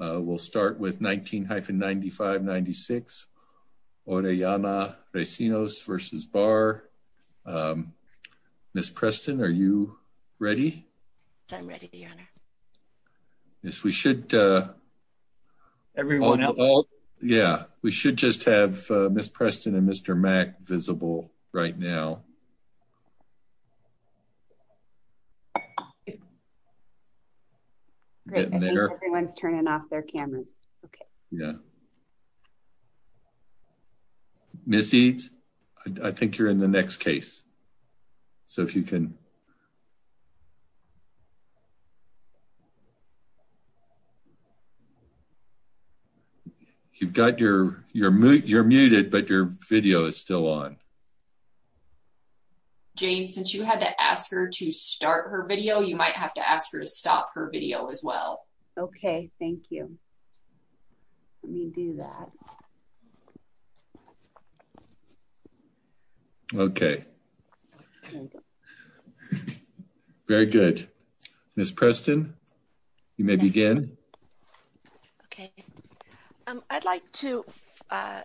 We'll start with 19-95-96, Orellana-Recinos v. Barr. Ms. Preston, are you ready? I'm ready, Your Honor. Yes, we should... Everyone else? Yeah, we should just have Ms. Preston and Mr. Mack visible right now. Great, I think everyone's turning off their cameras. Yeah. Ms. Eades, I think you're in the next case. So if you can... You've got your... You're muted, but your Jane, since you had to ask her to start her video, you might have to ask her to stop her video as well. Okay, thank you. Let me do that. Okay. Very good. Ms. Preston, you may begin. Okay. I'd like to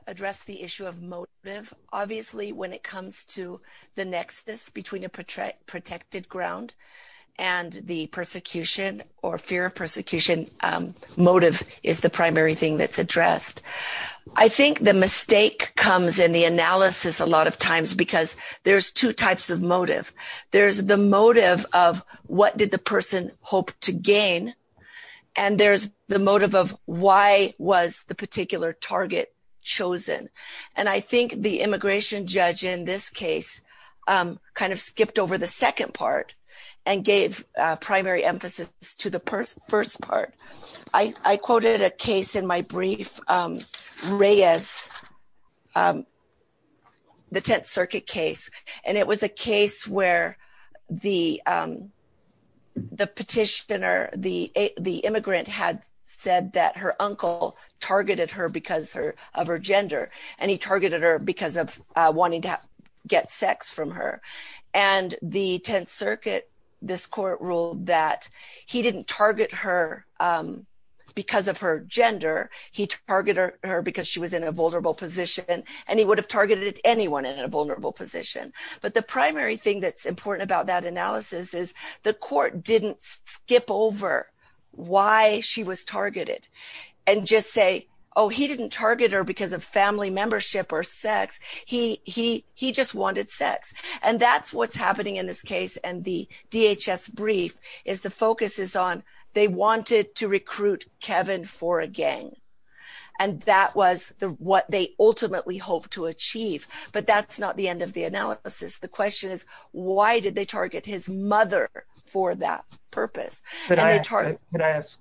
address the issue of motive. Obviously, when it comes to the nexus between a protected ground and the persecution or fear of persecution, motive is the primary thing that's addressed. I think the mistake comes in the analysis a lot of times because there's two types of motive. There's the motive of what did the person hope to gain? And there's the motive of why was the particular target chosen? And I think the immigration judge in this case kind of skipped over the second part and gave primary emphasis to the first part. I quoted a case in my brief, Reyes, the Tenth Circuit case. And it was a case where the petitioner, the immigrant had said that her uncle targeted her because of her gender, and he targeted her because of wanting to get sex from her. And the Tenth Circuit, this court ruled that he didn't target her because of her gender, he targeted her because she was in a vulnerable position, and he would have targeted anyone in a vulnerable position. But the primary thing that's important about that analysis is the court didn't skip over why she was targeted and just say, oh, he didn't target her because of family membership or sex, he just wanted sex. And that's what's happening in this case. And the DHS brief is the focus is on they wanted to recruit Kevin for a gang. And that was what they ultimately hoped to achieve. But that's not the end of the analysis. The question is, why did they target his mother for that purpose? Could I ask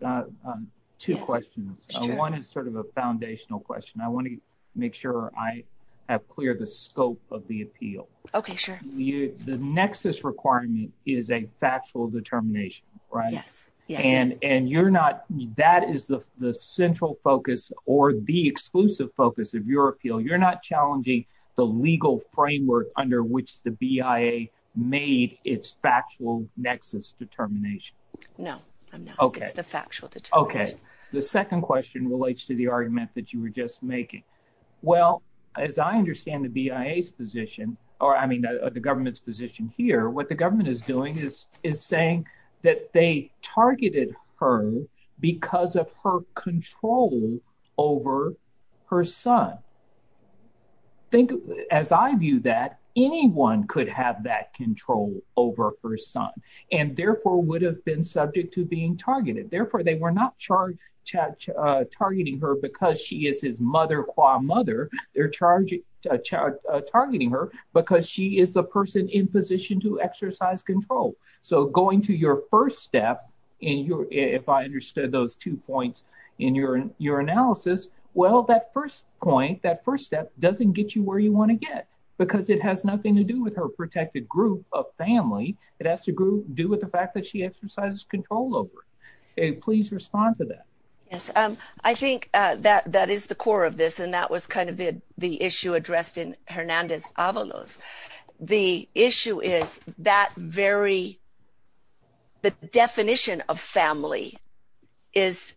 two questions? One is sort of a foundational question. I want to make sure I have cleared the scope of the appeal. Okay, sure. The nexus requirement is a factual determination, right? Yes. And you're not, that is the central focus or the exclusive focus of your appeal. You're not challenging the legal framework under which the BIA made its factual nexus determination. No, it's the factual determination. Okay. The second question relates to the argument that you were just making. Well, as I understand the BIA's position, or I mean, the government's position here, what the government is doing is saying that they targeted her because of her control over her son. As I view that, anyone could have that control over her son and therefore would have been subject to being targeted. Therefore, they were not targeting her because she is his mother qua mother. They're targeting her because she is the person in position to exercise control. So going to your first step, if I understood those two points in your analysis, well, that first point, that first step doesn't get you where you want to get because it has nothing to do with her protected group of family. It has to do with the fact that she exercises control over it. Please respond to that. Yes, I think that is the core of this. And that was kind of the issue addressed in Hernandez Avalos. The issue is that very, the definition of family is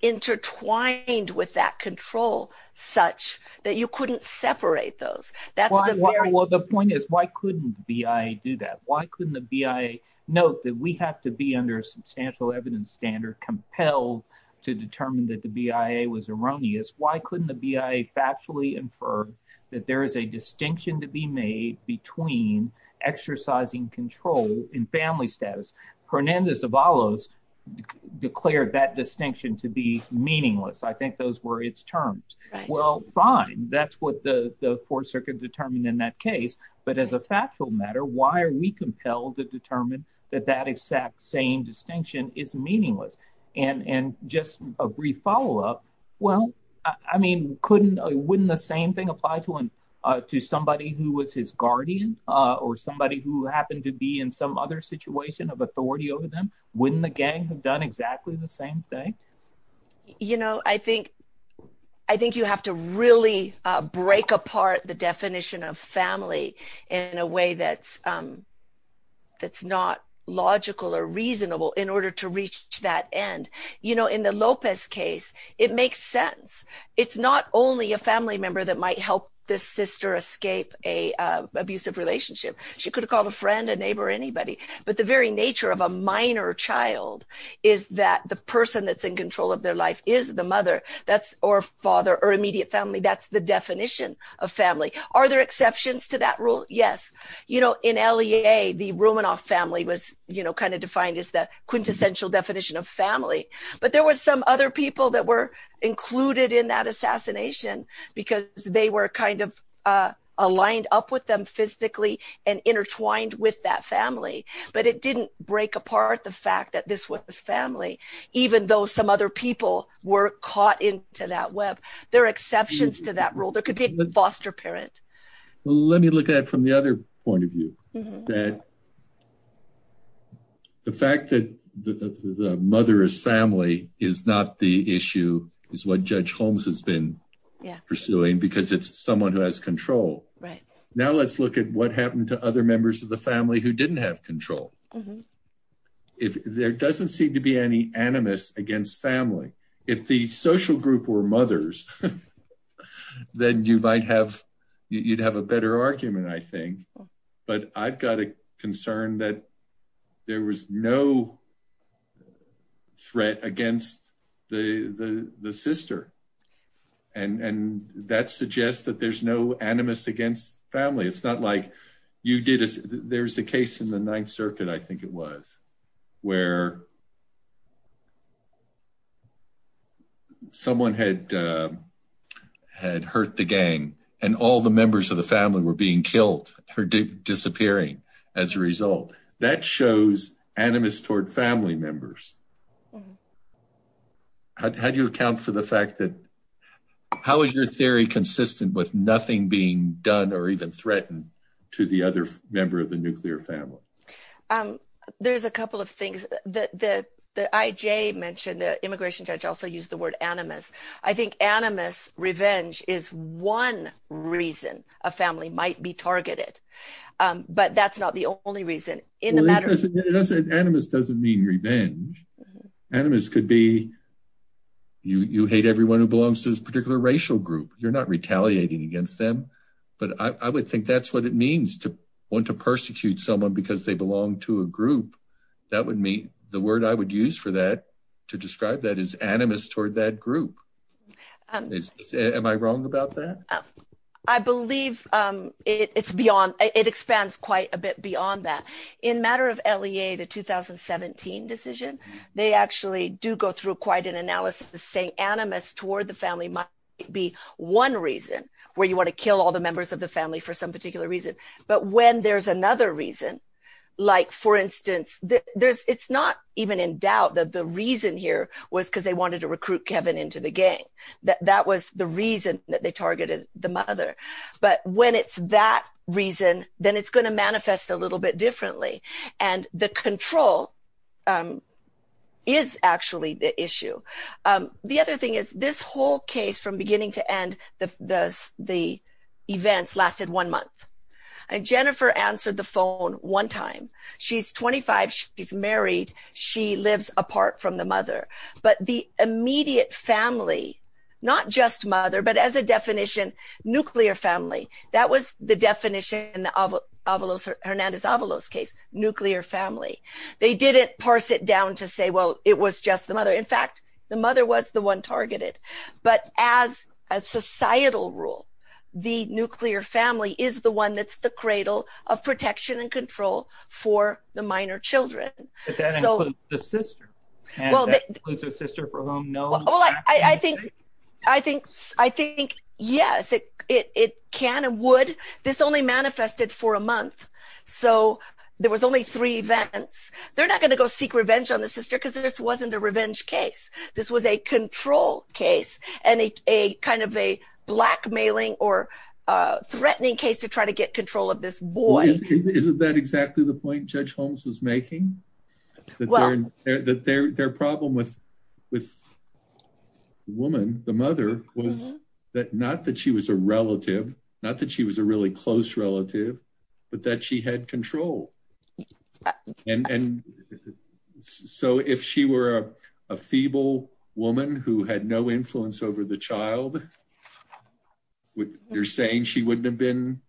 intertwined with that control such that you couldn't separate those. Well, the point is, why couldn't the BIA do that? Why couldn't the BIA note that we have to be under a substantial evidence standard compelled to determine that the BIA was erroneous? Why couldn't the BIA factually infer that there is a distinction to be made between exercising control in family status? Hernandez Avalos declared that distinction to be meaningless. I think those were its terms. Well, fine. That's what the four circuit determined in that case. But as a factual matter, why are we compelled to determine that that exact same distinction is meaningless? And just a brief follow up. Well, I mean, couldn't, wouldn't the same thing apply to somebody who was his guardian or somebody who happened to be in some other situation of authority over them? Wouldn't the gang have done exactly the same thing? You know, I think you have to really break apart the definition of family in a way that's not logical or reasonable in order to reach that end. You know, in the Lopez case, it makes sense. It's not only a family member that might help this sister escape a abusive relationship. She could have called a friend, a neighbor, anybody. But the very nature of a minor child is that the person that's in control of their life is the mother or father or immediate family. That's the definition of family. Are there exceptions to that rule? Yes. You know, in LEA, the Romanoff family was, you know, kind of defined as the quintessential definition of family. But there were some other people that were included in that assassination because they were kind of aligned up with them physically and intertwined with that family. But it didn't break apart the fact that this was family, even though some other people were caught into that web. There are exceptions to that rule. There could be a foster parent. Let me look at it from the other point of view. The fact that the mother is family is not the issue is what Judge Holmes has been pursuing because it's someone who has control. Right. Now let's look at what happened to other members of the family who didn't have control. If there doesn't seem to be any animus against family, if the social group were mothers, then you might have you'd have a better argument, I think. But I've got a concern that there was no threat against the sister. And that suggests that there's no animus against family. It's not like you did. There's a case in the Ninth Circuit, I think it was, where someone had hurt the gang and all the members of the family were being killed or disappearing as a result. That shows animus toward family members. How do you account for the fact that how is your theory consistent with nothing being done or even threatened to the other member of the nuclear family? Um, there's a couple of things that the IJ mentioned. The immigration judge also used the word animus. I think animus revenge is one reason a family might be targeted. But that's not the only reason. Animus doesn't mean revenge. Animus could be you hate everyone who belongs to this particular racial group. You're not retaliating against them. But I would think that's what it means to want to persecute someone because they belong to a group. That would mean the word I would use for that to describe that is animus toward that group. Am I wrong about that? I believe it expands quite a bit beyond that. In matter of LEA, the 2017 decision, they actually do go through quite an analysis saying animus toward the family might be one reason where you want to kill all the members of the family for some particular reason. But when there's another reason, like, for instance, it's not even in doubt that the reason here was because they wanted to recruit Kevin into the gang. That was the reason that they targeted the mother. But when it's that reason, then it's going to manifest a little bit differently. And the control is actually the issue. The other thing is this whole case from beginning to end, the events lasted one month. And Jennifer answered the phone one time. She's 25. She's married. She lives apart from the mother. But the immediate family, not just mother, but as a definition, nuclear family, that was the definition in the Hernandez-Avalos case, nuclear family. They didn't parse it down to say, well, it was just the mother. In fact, the mother was the one targeted. But as a societal rule, the nuclear family is the one that's the cradle of protection and control for the minor children. But that includes the sister. And that includes the sister for whom no- Well, I think, yes, it can and would. This only manifested for a month. So there was only three events. They're not going to go seek revenge on the sister because this wasn't a revenge case. This was a control case and a kind of a blackmailing or threatening case to try to get control of this boy. Isn't that exactly the point Judge Holmes was making? That their problem with the woman, the mother, was that not that she was a relative, not that she was a really close relative, but that she had control. And so if she were a feeble woman who had no influence over the child, you're saying she wouldn't have been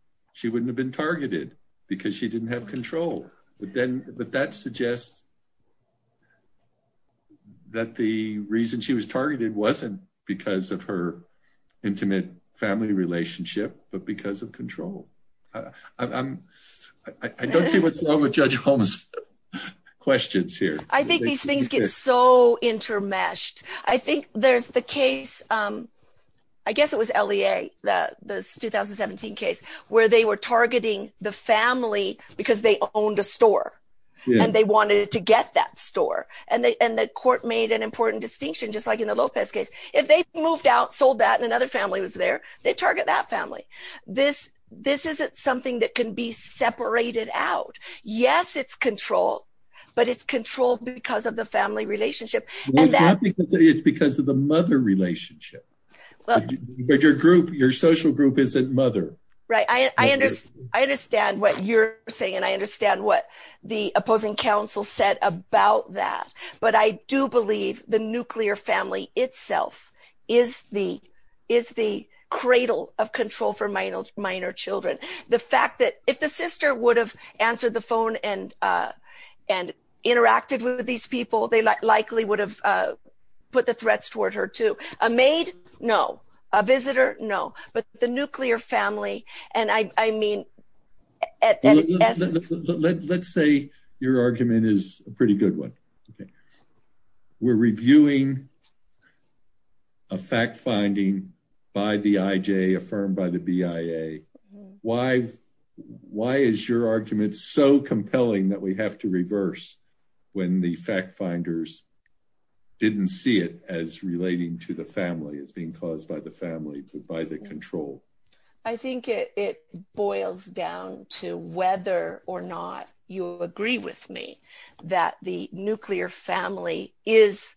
targeted because she didn't have control. But that suggests that the reason she was targeted wasn't because of her intimate family relationship, but because of control. I don't see what's wrong with Judge Holmes' questions here. I think these things get so intermeshed. I think there's the case, I guess it was LEA, the 2017 case, where they were targeting the family because they owned a store and they wanted to get that store. And the court made an important distinction, just like in the Lopez case. If they moved out, sold that and another family was there, they target that family. This isn't something that can be separated out. Yes, it's control, but it's control because of the family relationship. It's because of the mother relationship. But your social group isn't mother. I understand what you're saying. I understand what the opposing counsel said about that. But I do believe the nuclear family itself is the cradle of control for minor children. The fact that if the sister would have answered the phone and interacted with these people, they likely would have put the threats toward her too. A maid, no. A visitor, no. But the nuclear family, and I mean... Let's say your argument is a pretty good one. We're reviewing a fact finding by the IJ, affirmed by the BIA. Why is your argument so compelling that we have to reverse when the fact finders didn't see it as relating to the family, as being caused by the family, by the control? I think it boils down to whether or not you agree with me that the nuclear family is...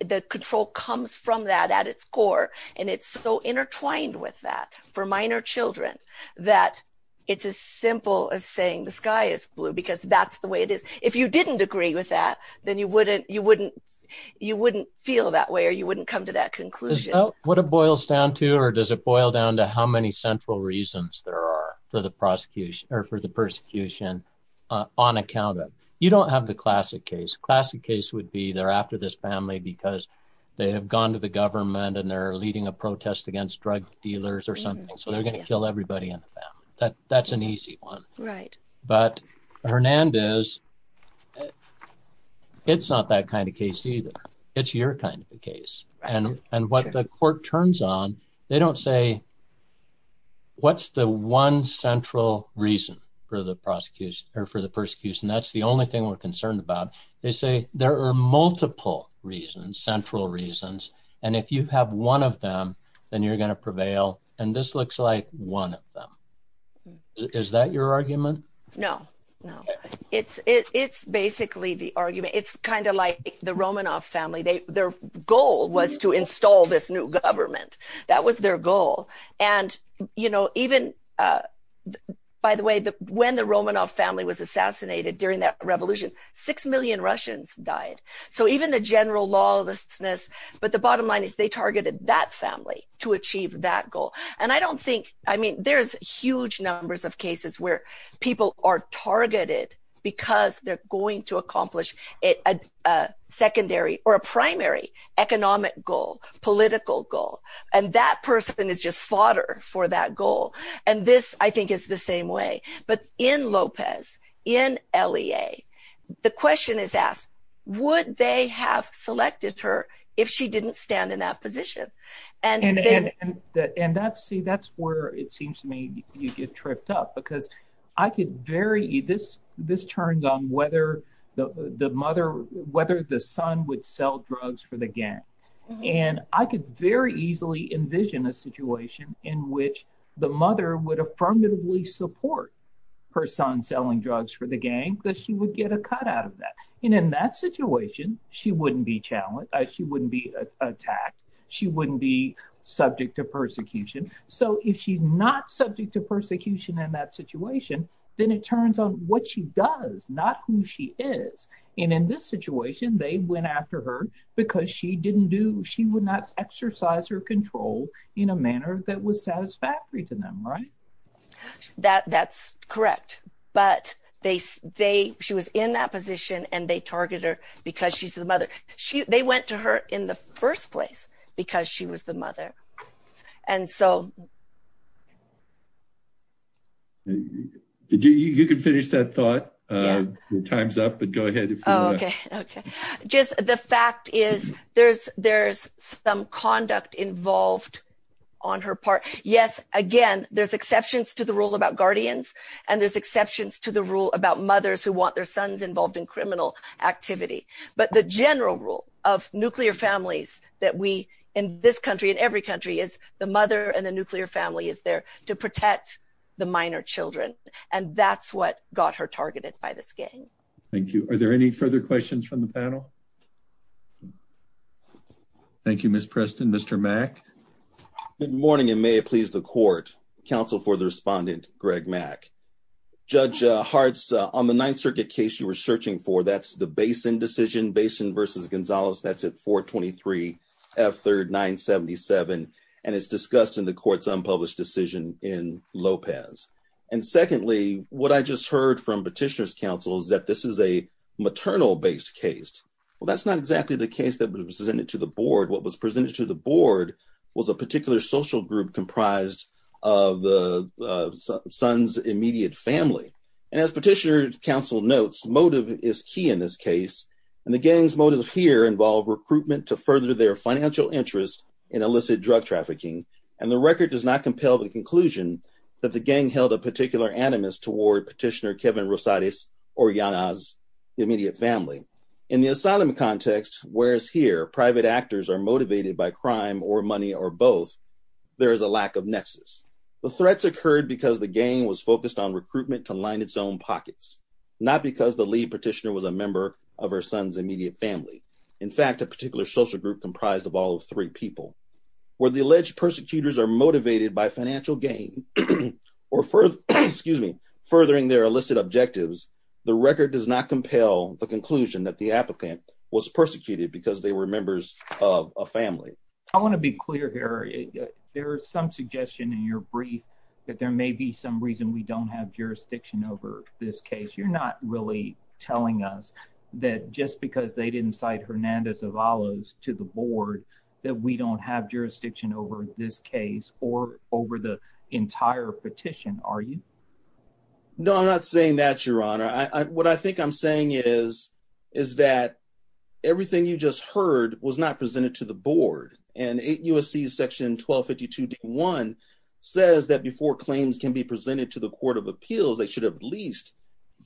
The control comes from that at its core, and it's so intertwined with that for minor children that it's as simple as saying the sky is blue because that's the way it is. If you didn't agree with that, then you wouldn't feel that way, or you wouldn't come to that conclusion. What it boils down to, or does it boil down to how many central reasons there are for the persecution on account of? You don't have the classic case. Classic case would be they're after this family because they have gone to the government, and they're leading a protest against drug dealers or something, so they're going to kill everybody in the family. That's an easy one. But Hernandez, it's not that kind of case either. It's your kind of a case. And what the court turns on, they don't say, what's the one central reason for the persecution? That's the only thing we're concerned about. They say there are multiple reasons, central reasons, and if you have one of them, then you're going to prevail. And this looks like one of them. Is that your argument? No, no. It's basically the argument. It's kind of like the Romanoff family. Their goal was to install this new government. That was their goal. And even, by the way, when the Romanoff family was assassinated during that revolution, six million Russians died. So even the general lawlessness, but the bottom line is they targeted that family to achieve that goal. And I don't think, I mean, there's huge numbers of cases where people are targeted because they're going to accomplish a secondary or a primary economic goal, political goal. And that person is just fodder for that goal. And this, I think, is the same way. But in Lopez, in LEA, the question is asked, would they have selected her if she didn't stand in that position? And that's where it seems to me you get tripped up, because I could very, this turns on whether the mother, whether the son would sell drugs for the gang. And I could very easily envision a situation in which the mother would affirmatively support her son selling drugs for the gang because she would get a cut out of that. And in that situation, she wouldn't be challenged. She wouldn't be attacked. She wouldn't be subject to persecution. So if she's not subject to persecution in that situation, then it turns on what she does, not who she is. And in this situation, they went after her because she didn't do, she would not exercise her control in a manner that was satisfactory to them, right? That's correct. But they, she was in that position and they target her because she's the mother. And so. You can finish that thought. Time's up, but go ahead. Okay. Just the fact is there's some conduct involved on her part. Yes, again, there's exceptions to the rule about guardians, and there's exceptions to the rule about mothers who want their sons involved in criminal activity. But the general rule of nuclear families that we, in this country, in every country is the mother and the nuclear family is there to protect the minor children. And that's what got her targeted by this gang. Thank you. Are there any further questions from the panel? Thank you, Ms. Preston. Mr. Mack. Good morning, and may it please the court. Counsel for the respondent, Greg Mack. Judge Hartz, on the Ninth Circuit case you were searching for, that's the Basin decision, Basin versus Gonzalez. That's at 423 F3rd 977. And it's discussed in the court's unpublished decision in Lopez. And secondly, what I just heard from petitioner's counsel is that this is a maternal based case. Well, that's not exactly the case that was presented to the board. What was presented to the board was a particular social group comprised of the son's immediate family. And as petitioner's counsel notes, motive is key in this case. And the gang's motive here involved recruitment to further their financial interest in illicit drug trafficking. And the record does not compel the conclusion that the gang held a particular animus toward petitioner Kevin Rosales or Yana's immediate family. In the asylum context, whereas here private actors are motivated by crime or money or both, there is a lack of nexus. The threats occurred because the gang was focused on recruitment to line its own pockets, not because the lead petitioner was a member of her son's immediate family. In fact, a particular social group comprised of all three people where the alleged persecutors are motivated by financial gain or furthering their illicit objectives. The record does not compel the conclusion that the applicant was persecuted because they were members of a family. I want to be clear here. There is some suggestion in your brief that there may be some reason we don't have jurisdiction over this case. You're not really telling us that just because they didn't cite Hernandez Avalos to the board that we don't have jurisdiction over this case or over the entire petition, are you? No, I'm not saying that, Your Honor. What I think I'm saying is that everything you just heard was not and 8 U.S.C. section 1252.1 says that before claims can be presented to the Court of Appeals, they should at least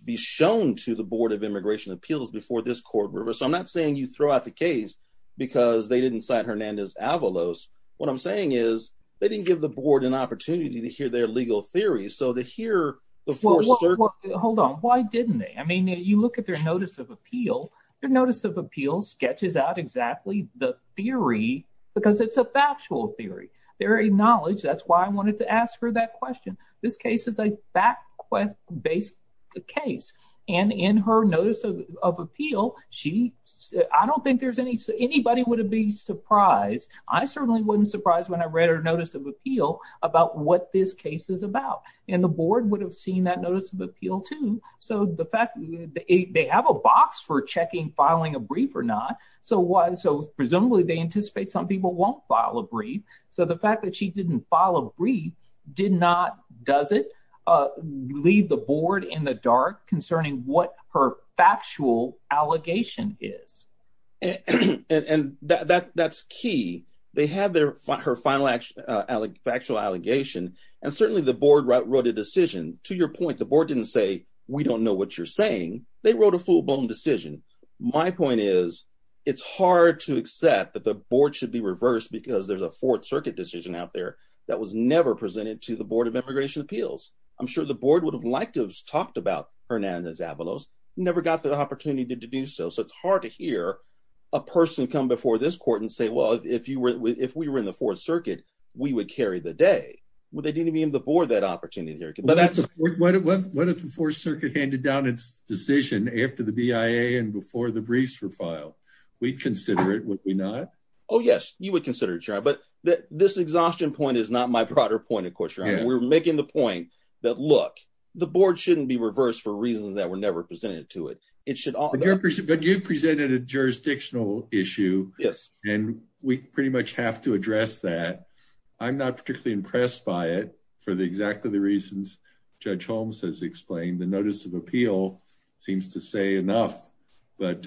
be shown to the Board of Immigration Appeals before this court reversed. I'm not saying you throw out the case because they didn't cite Hernandez Avalos. What I'm saying is they didn't give the board an opportunity to hear their legal theories. So to hear... Hold on. Why didn't they? I mean, you look at their notice of appeal. Your notice of appeal sketches out exactly the theory because it's a factual theory. They're acknowledged. That's why I wanted to ask her that question. This case is a fact-based case. And in her notice of appeal, she... I don't think there's any... Anybody would have been surprised. I certainly wasn't surprised when I read her notice of appeal about what this case is about. And the board would have seen that notice of appeal, too. So the fact... They have a box for checking filing a brief or not. So presumably they anticipate some people won't file a brief. So the fact that she didn't file a brief did not, does it, leave the board in the dark concerning what her factual allegation is. And that's key. They have her final factual allegation. And certainly the board wrote a decision. To your point, the board didn't say, we don't know what you're saying. They wrote a full-blown decision. My point is, it's hard to accept that the board should be reversed because there's a Fourth Circuit decision out there that was never presented to the Board of Immigration Appeals. I'm sure the board would have liked to have talked about Hernandez-Avalos, never got the opportunity to do so. So it's hard to hear a person come before this court and say, well, if we were in the Fourth Circuit, we would carry the day. Well, they didn't give the board that opportunity. What if the Fourth Circuit handed down its decision after the BIA and before the briefs were filed? We'd consider it, would we not? Oh, yes. You would consider it, Your Honor. But this exhaustion point is not my broader point, of course, Your Honor. We're making the point that, look, the board shouldn't be reversed for reasons that were never presented to it. But you presented a jurisdictional issue. Yes. And we pretty much have to address that. I'm not particularly impressed by it for exactly the reasons Judge Holmes has explained. The notice of appeal seems to say enough. But...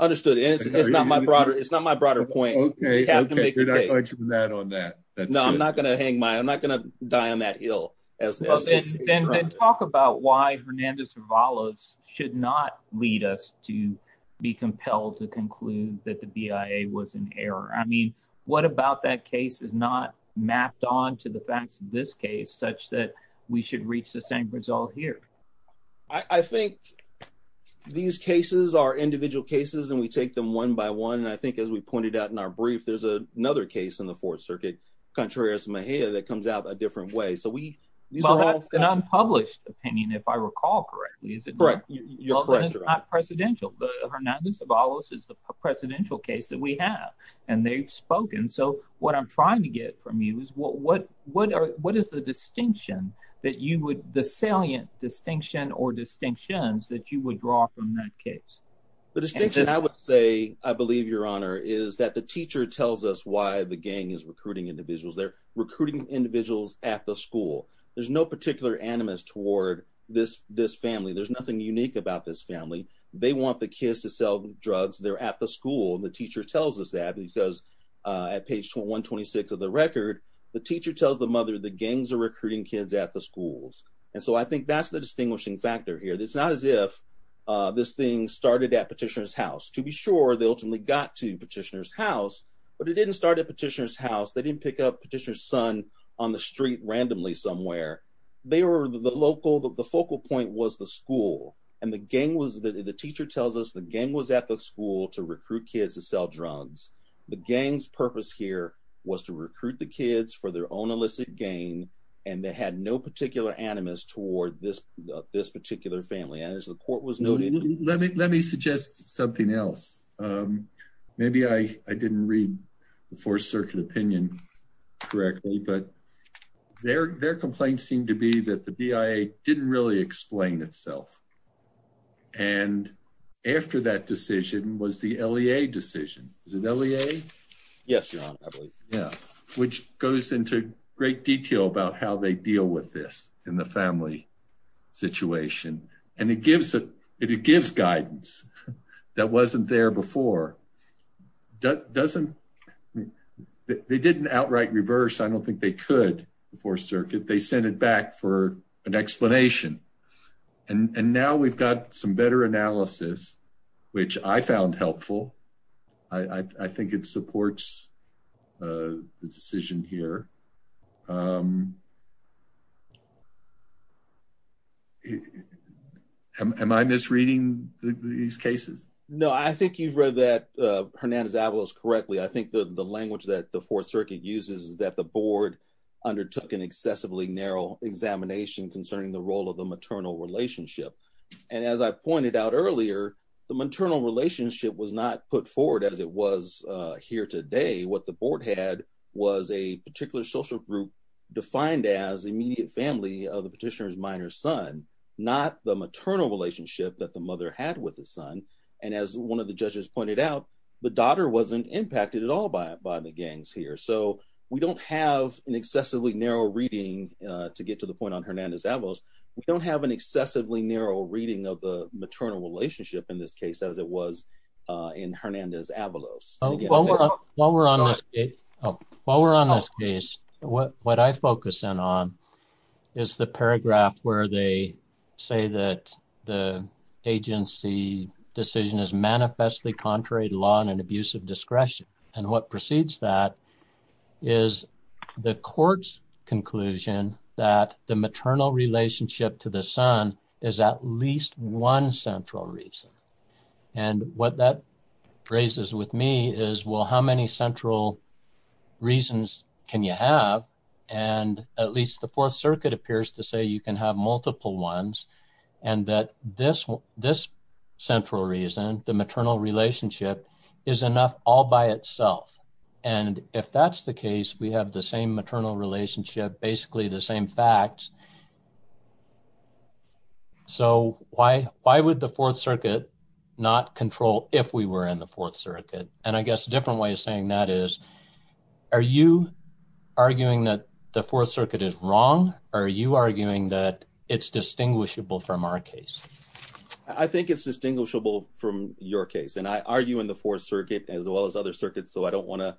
I understood. It's not my broader point. Okay, okay. You're not going to deny on that. No, I'm not going to hang my... I'm not going to die on that hill. Then talk about why Hernandez-Avalos should not lead us to be compelled to conclude that the BIA was in error. What about that case is not mapped on to the facts of this case such that we should reach the same result here? I think these cases are individual cases, and we take them one by one. And I think, as we pointed out in our brief, there's another case in the Fourth Circuit, Contreras-Mejia, that comes out a different way. So we... Well, that's an unpublished opinion, if I recall correctly. Is it not? Correct, Your Honor. Well, then it's not presidential. But Hernandez-Avalos is the presidential case that we have. And they've spoken. So what I'm trying to get from you is what is the distinction that you would... the salient distinction or distinctions that you would draw from that case? The distinction, I would say, I believe, Your Honor, is that the teacher tells us why the gang is recruiting individuals. They're recruiting individuals at the school. There's no particular animus toward this family. There's nothing unique about this family. They want the kids to sell drugs. They're at the school. And the teacher tells us that because at page 126 of the record, the teacher tells the mother the gangs are recruiting kids at the schools. And so I think that's the distinguishing factor here. It's not as if this thing started at Petitioner's house. To be sure, they ultimately got to Petitioner's house. But it didn't start at Petitioner's house. They didn't pick up Petitioner's son on the street randomly somewhere. They were the local... The focal point was the school. And the teacher tells us the gang was at the school to recruit kids to sell drugs. The gang's purpose here was to recruit the kids for their own illicit gain. And they had no particular animus toward this particular family. And as the court was noting... Let me suggest something else. Maybe I didn't read the Fourth Circuit opinion correctly. But their complaint seemed to be that the BIA didn't really explain itself. And after that decision was the LEA decision. Is it LEA? Yes, Your Honor, I believe. Yeah. Which goes into great detail about how they deal with this in the family situation. And it gives guidance that wasn't there before. They didn't outright reverse. I don't think they could before Circuit. They sent it back for an explanation. And now we've got some better analysis, which I found helpful. I think it supports the decision here. Am I misreading these cases? No, I think you've read that, Hernandez-Avalos, correctly. I think the language that the Fourth Circuit uses is that the board undertook an excessively narrow examination concerning the role of the maternal relationship. And as I pointed out earlier, the maternal relationship was not put forward as it was here today. What the board had was a particular social group defined as immediate family of the petitioner's minor son, not the maternal relationship that the mother had with the son. And as one of the judges pointed out, the daughter wasn't impacted at all by the gangs here. So we don't have an excessively narrow reading to get to the point on Hernandez-Avalos. We don't have an excessively narrow reading of the maternal relationship in this case as it was in Hernandez-Avalos. While we're on this case, what I focus in on is the paragraph where they say that the agency decision is manifestly contrary to law and an abuse of discretion. And what precedes that is the court's conclusion that the maternal relationship to the son is at least one central reason. And what that raises with me is, well, how many central reasons can you have? And at least the Fourth Circuit appears to say you can have multiple ones and that this central reason, the maternal relationship, is enough all by itself. And if that's the case, we have the same maternal relationship, basically the same facts. So why would the Fourth Circuit not control if we were in the Fourth Circuit? And I guess a different way of saying that is, are you arguing that the Fourth Circuit is wrong or are you arguing that it's distinguishable from our case? I think it's distinguishable from your case. And I argue in the Fourth Circuit as well as other circuits, so I don't want to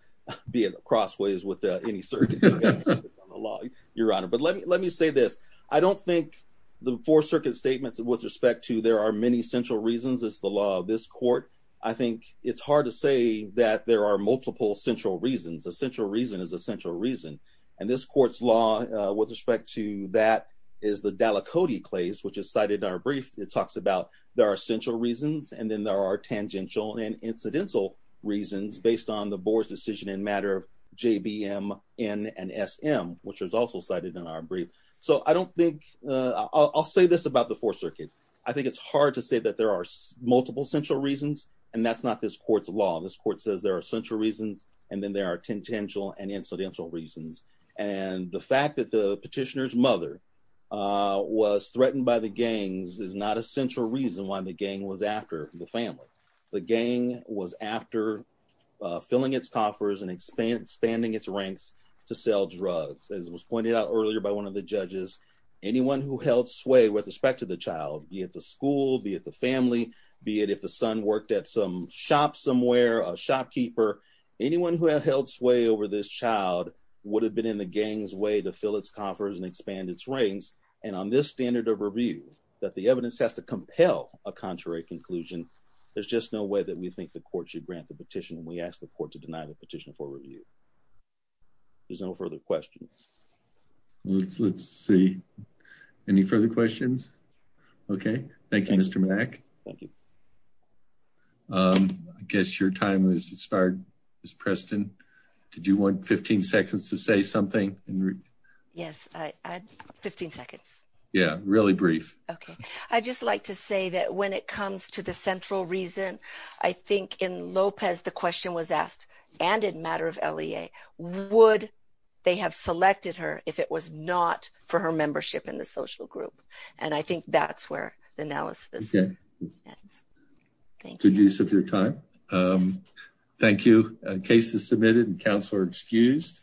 be at crossways with any circuit on the law, Your Honor. But let me say this. I don't think the Fourth Circuit's statements with respect to there are many central reasons is the law of this court. I think it's hard to say that there are multiple central reasons. A central reason is a central reason. And this court's law with respect to that is the Dallacote claims, which is cited in our brief. It talks about there are central reasons and then there are tangential and incidental reasons based on the board's decision in matter of JBMN and SM, which was also cited in our brief. So I'll say this about the Fourth Circuit. I think it's hard to say that there are multiple central reasons, and that's not this court's law. This court says there are central reasons and then there are tangential and incidental reasons. And the fact that the petitioner's mother was threatened by the gangs is not a central reason why the gang was after the family. The gang was after filling its coffers and expanding its ranks to sell drugs. As was pointed out earlier by one of the judges, anyone who held sway with respect to the child, be it the school, be it the family, be it if the son worked at some shop somewhere, a shopkeeper, anyone who held sway over this child would have been in the gang's way to fill its coffers and expand its ranks. And on this standard of review, that the evidence has to compel a contrary conclusion, there's just no way that we think the court should grant the petition. We ask the court to deny the petition for review. There's no further questions. Let's see. Any further questions? Okay. Thank you, Mr. Mack. Thank you. I guess your time has expired, Ms. Preston. Did you want 15 seconds to say something? Yes, I had 15 seconds. Yeah, really brief. Okay. I'd just like to say that when it comes to the central reason, I think in Lopez, the question was asked, and in matter of LEA, would they have selected her if it was not for her membership in the social group? And I think that's where the analysis ends. Good use of your time. Thank you. Case is submitted and counsel are excused.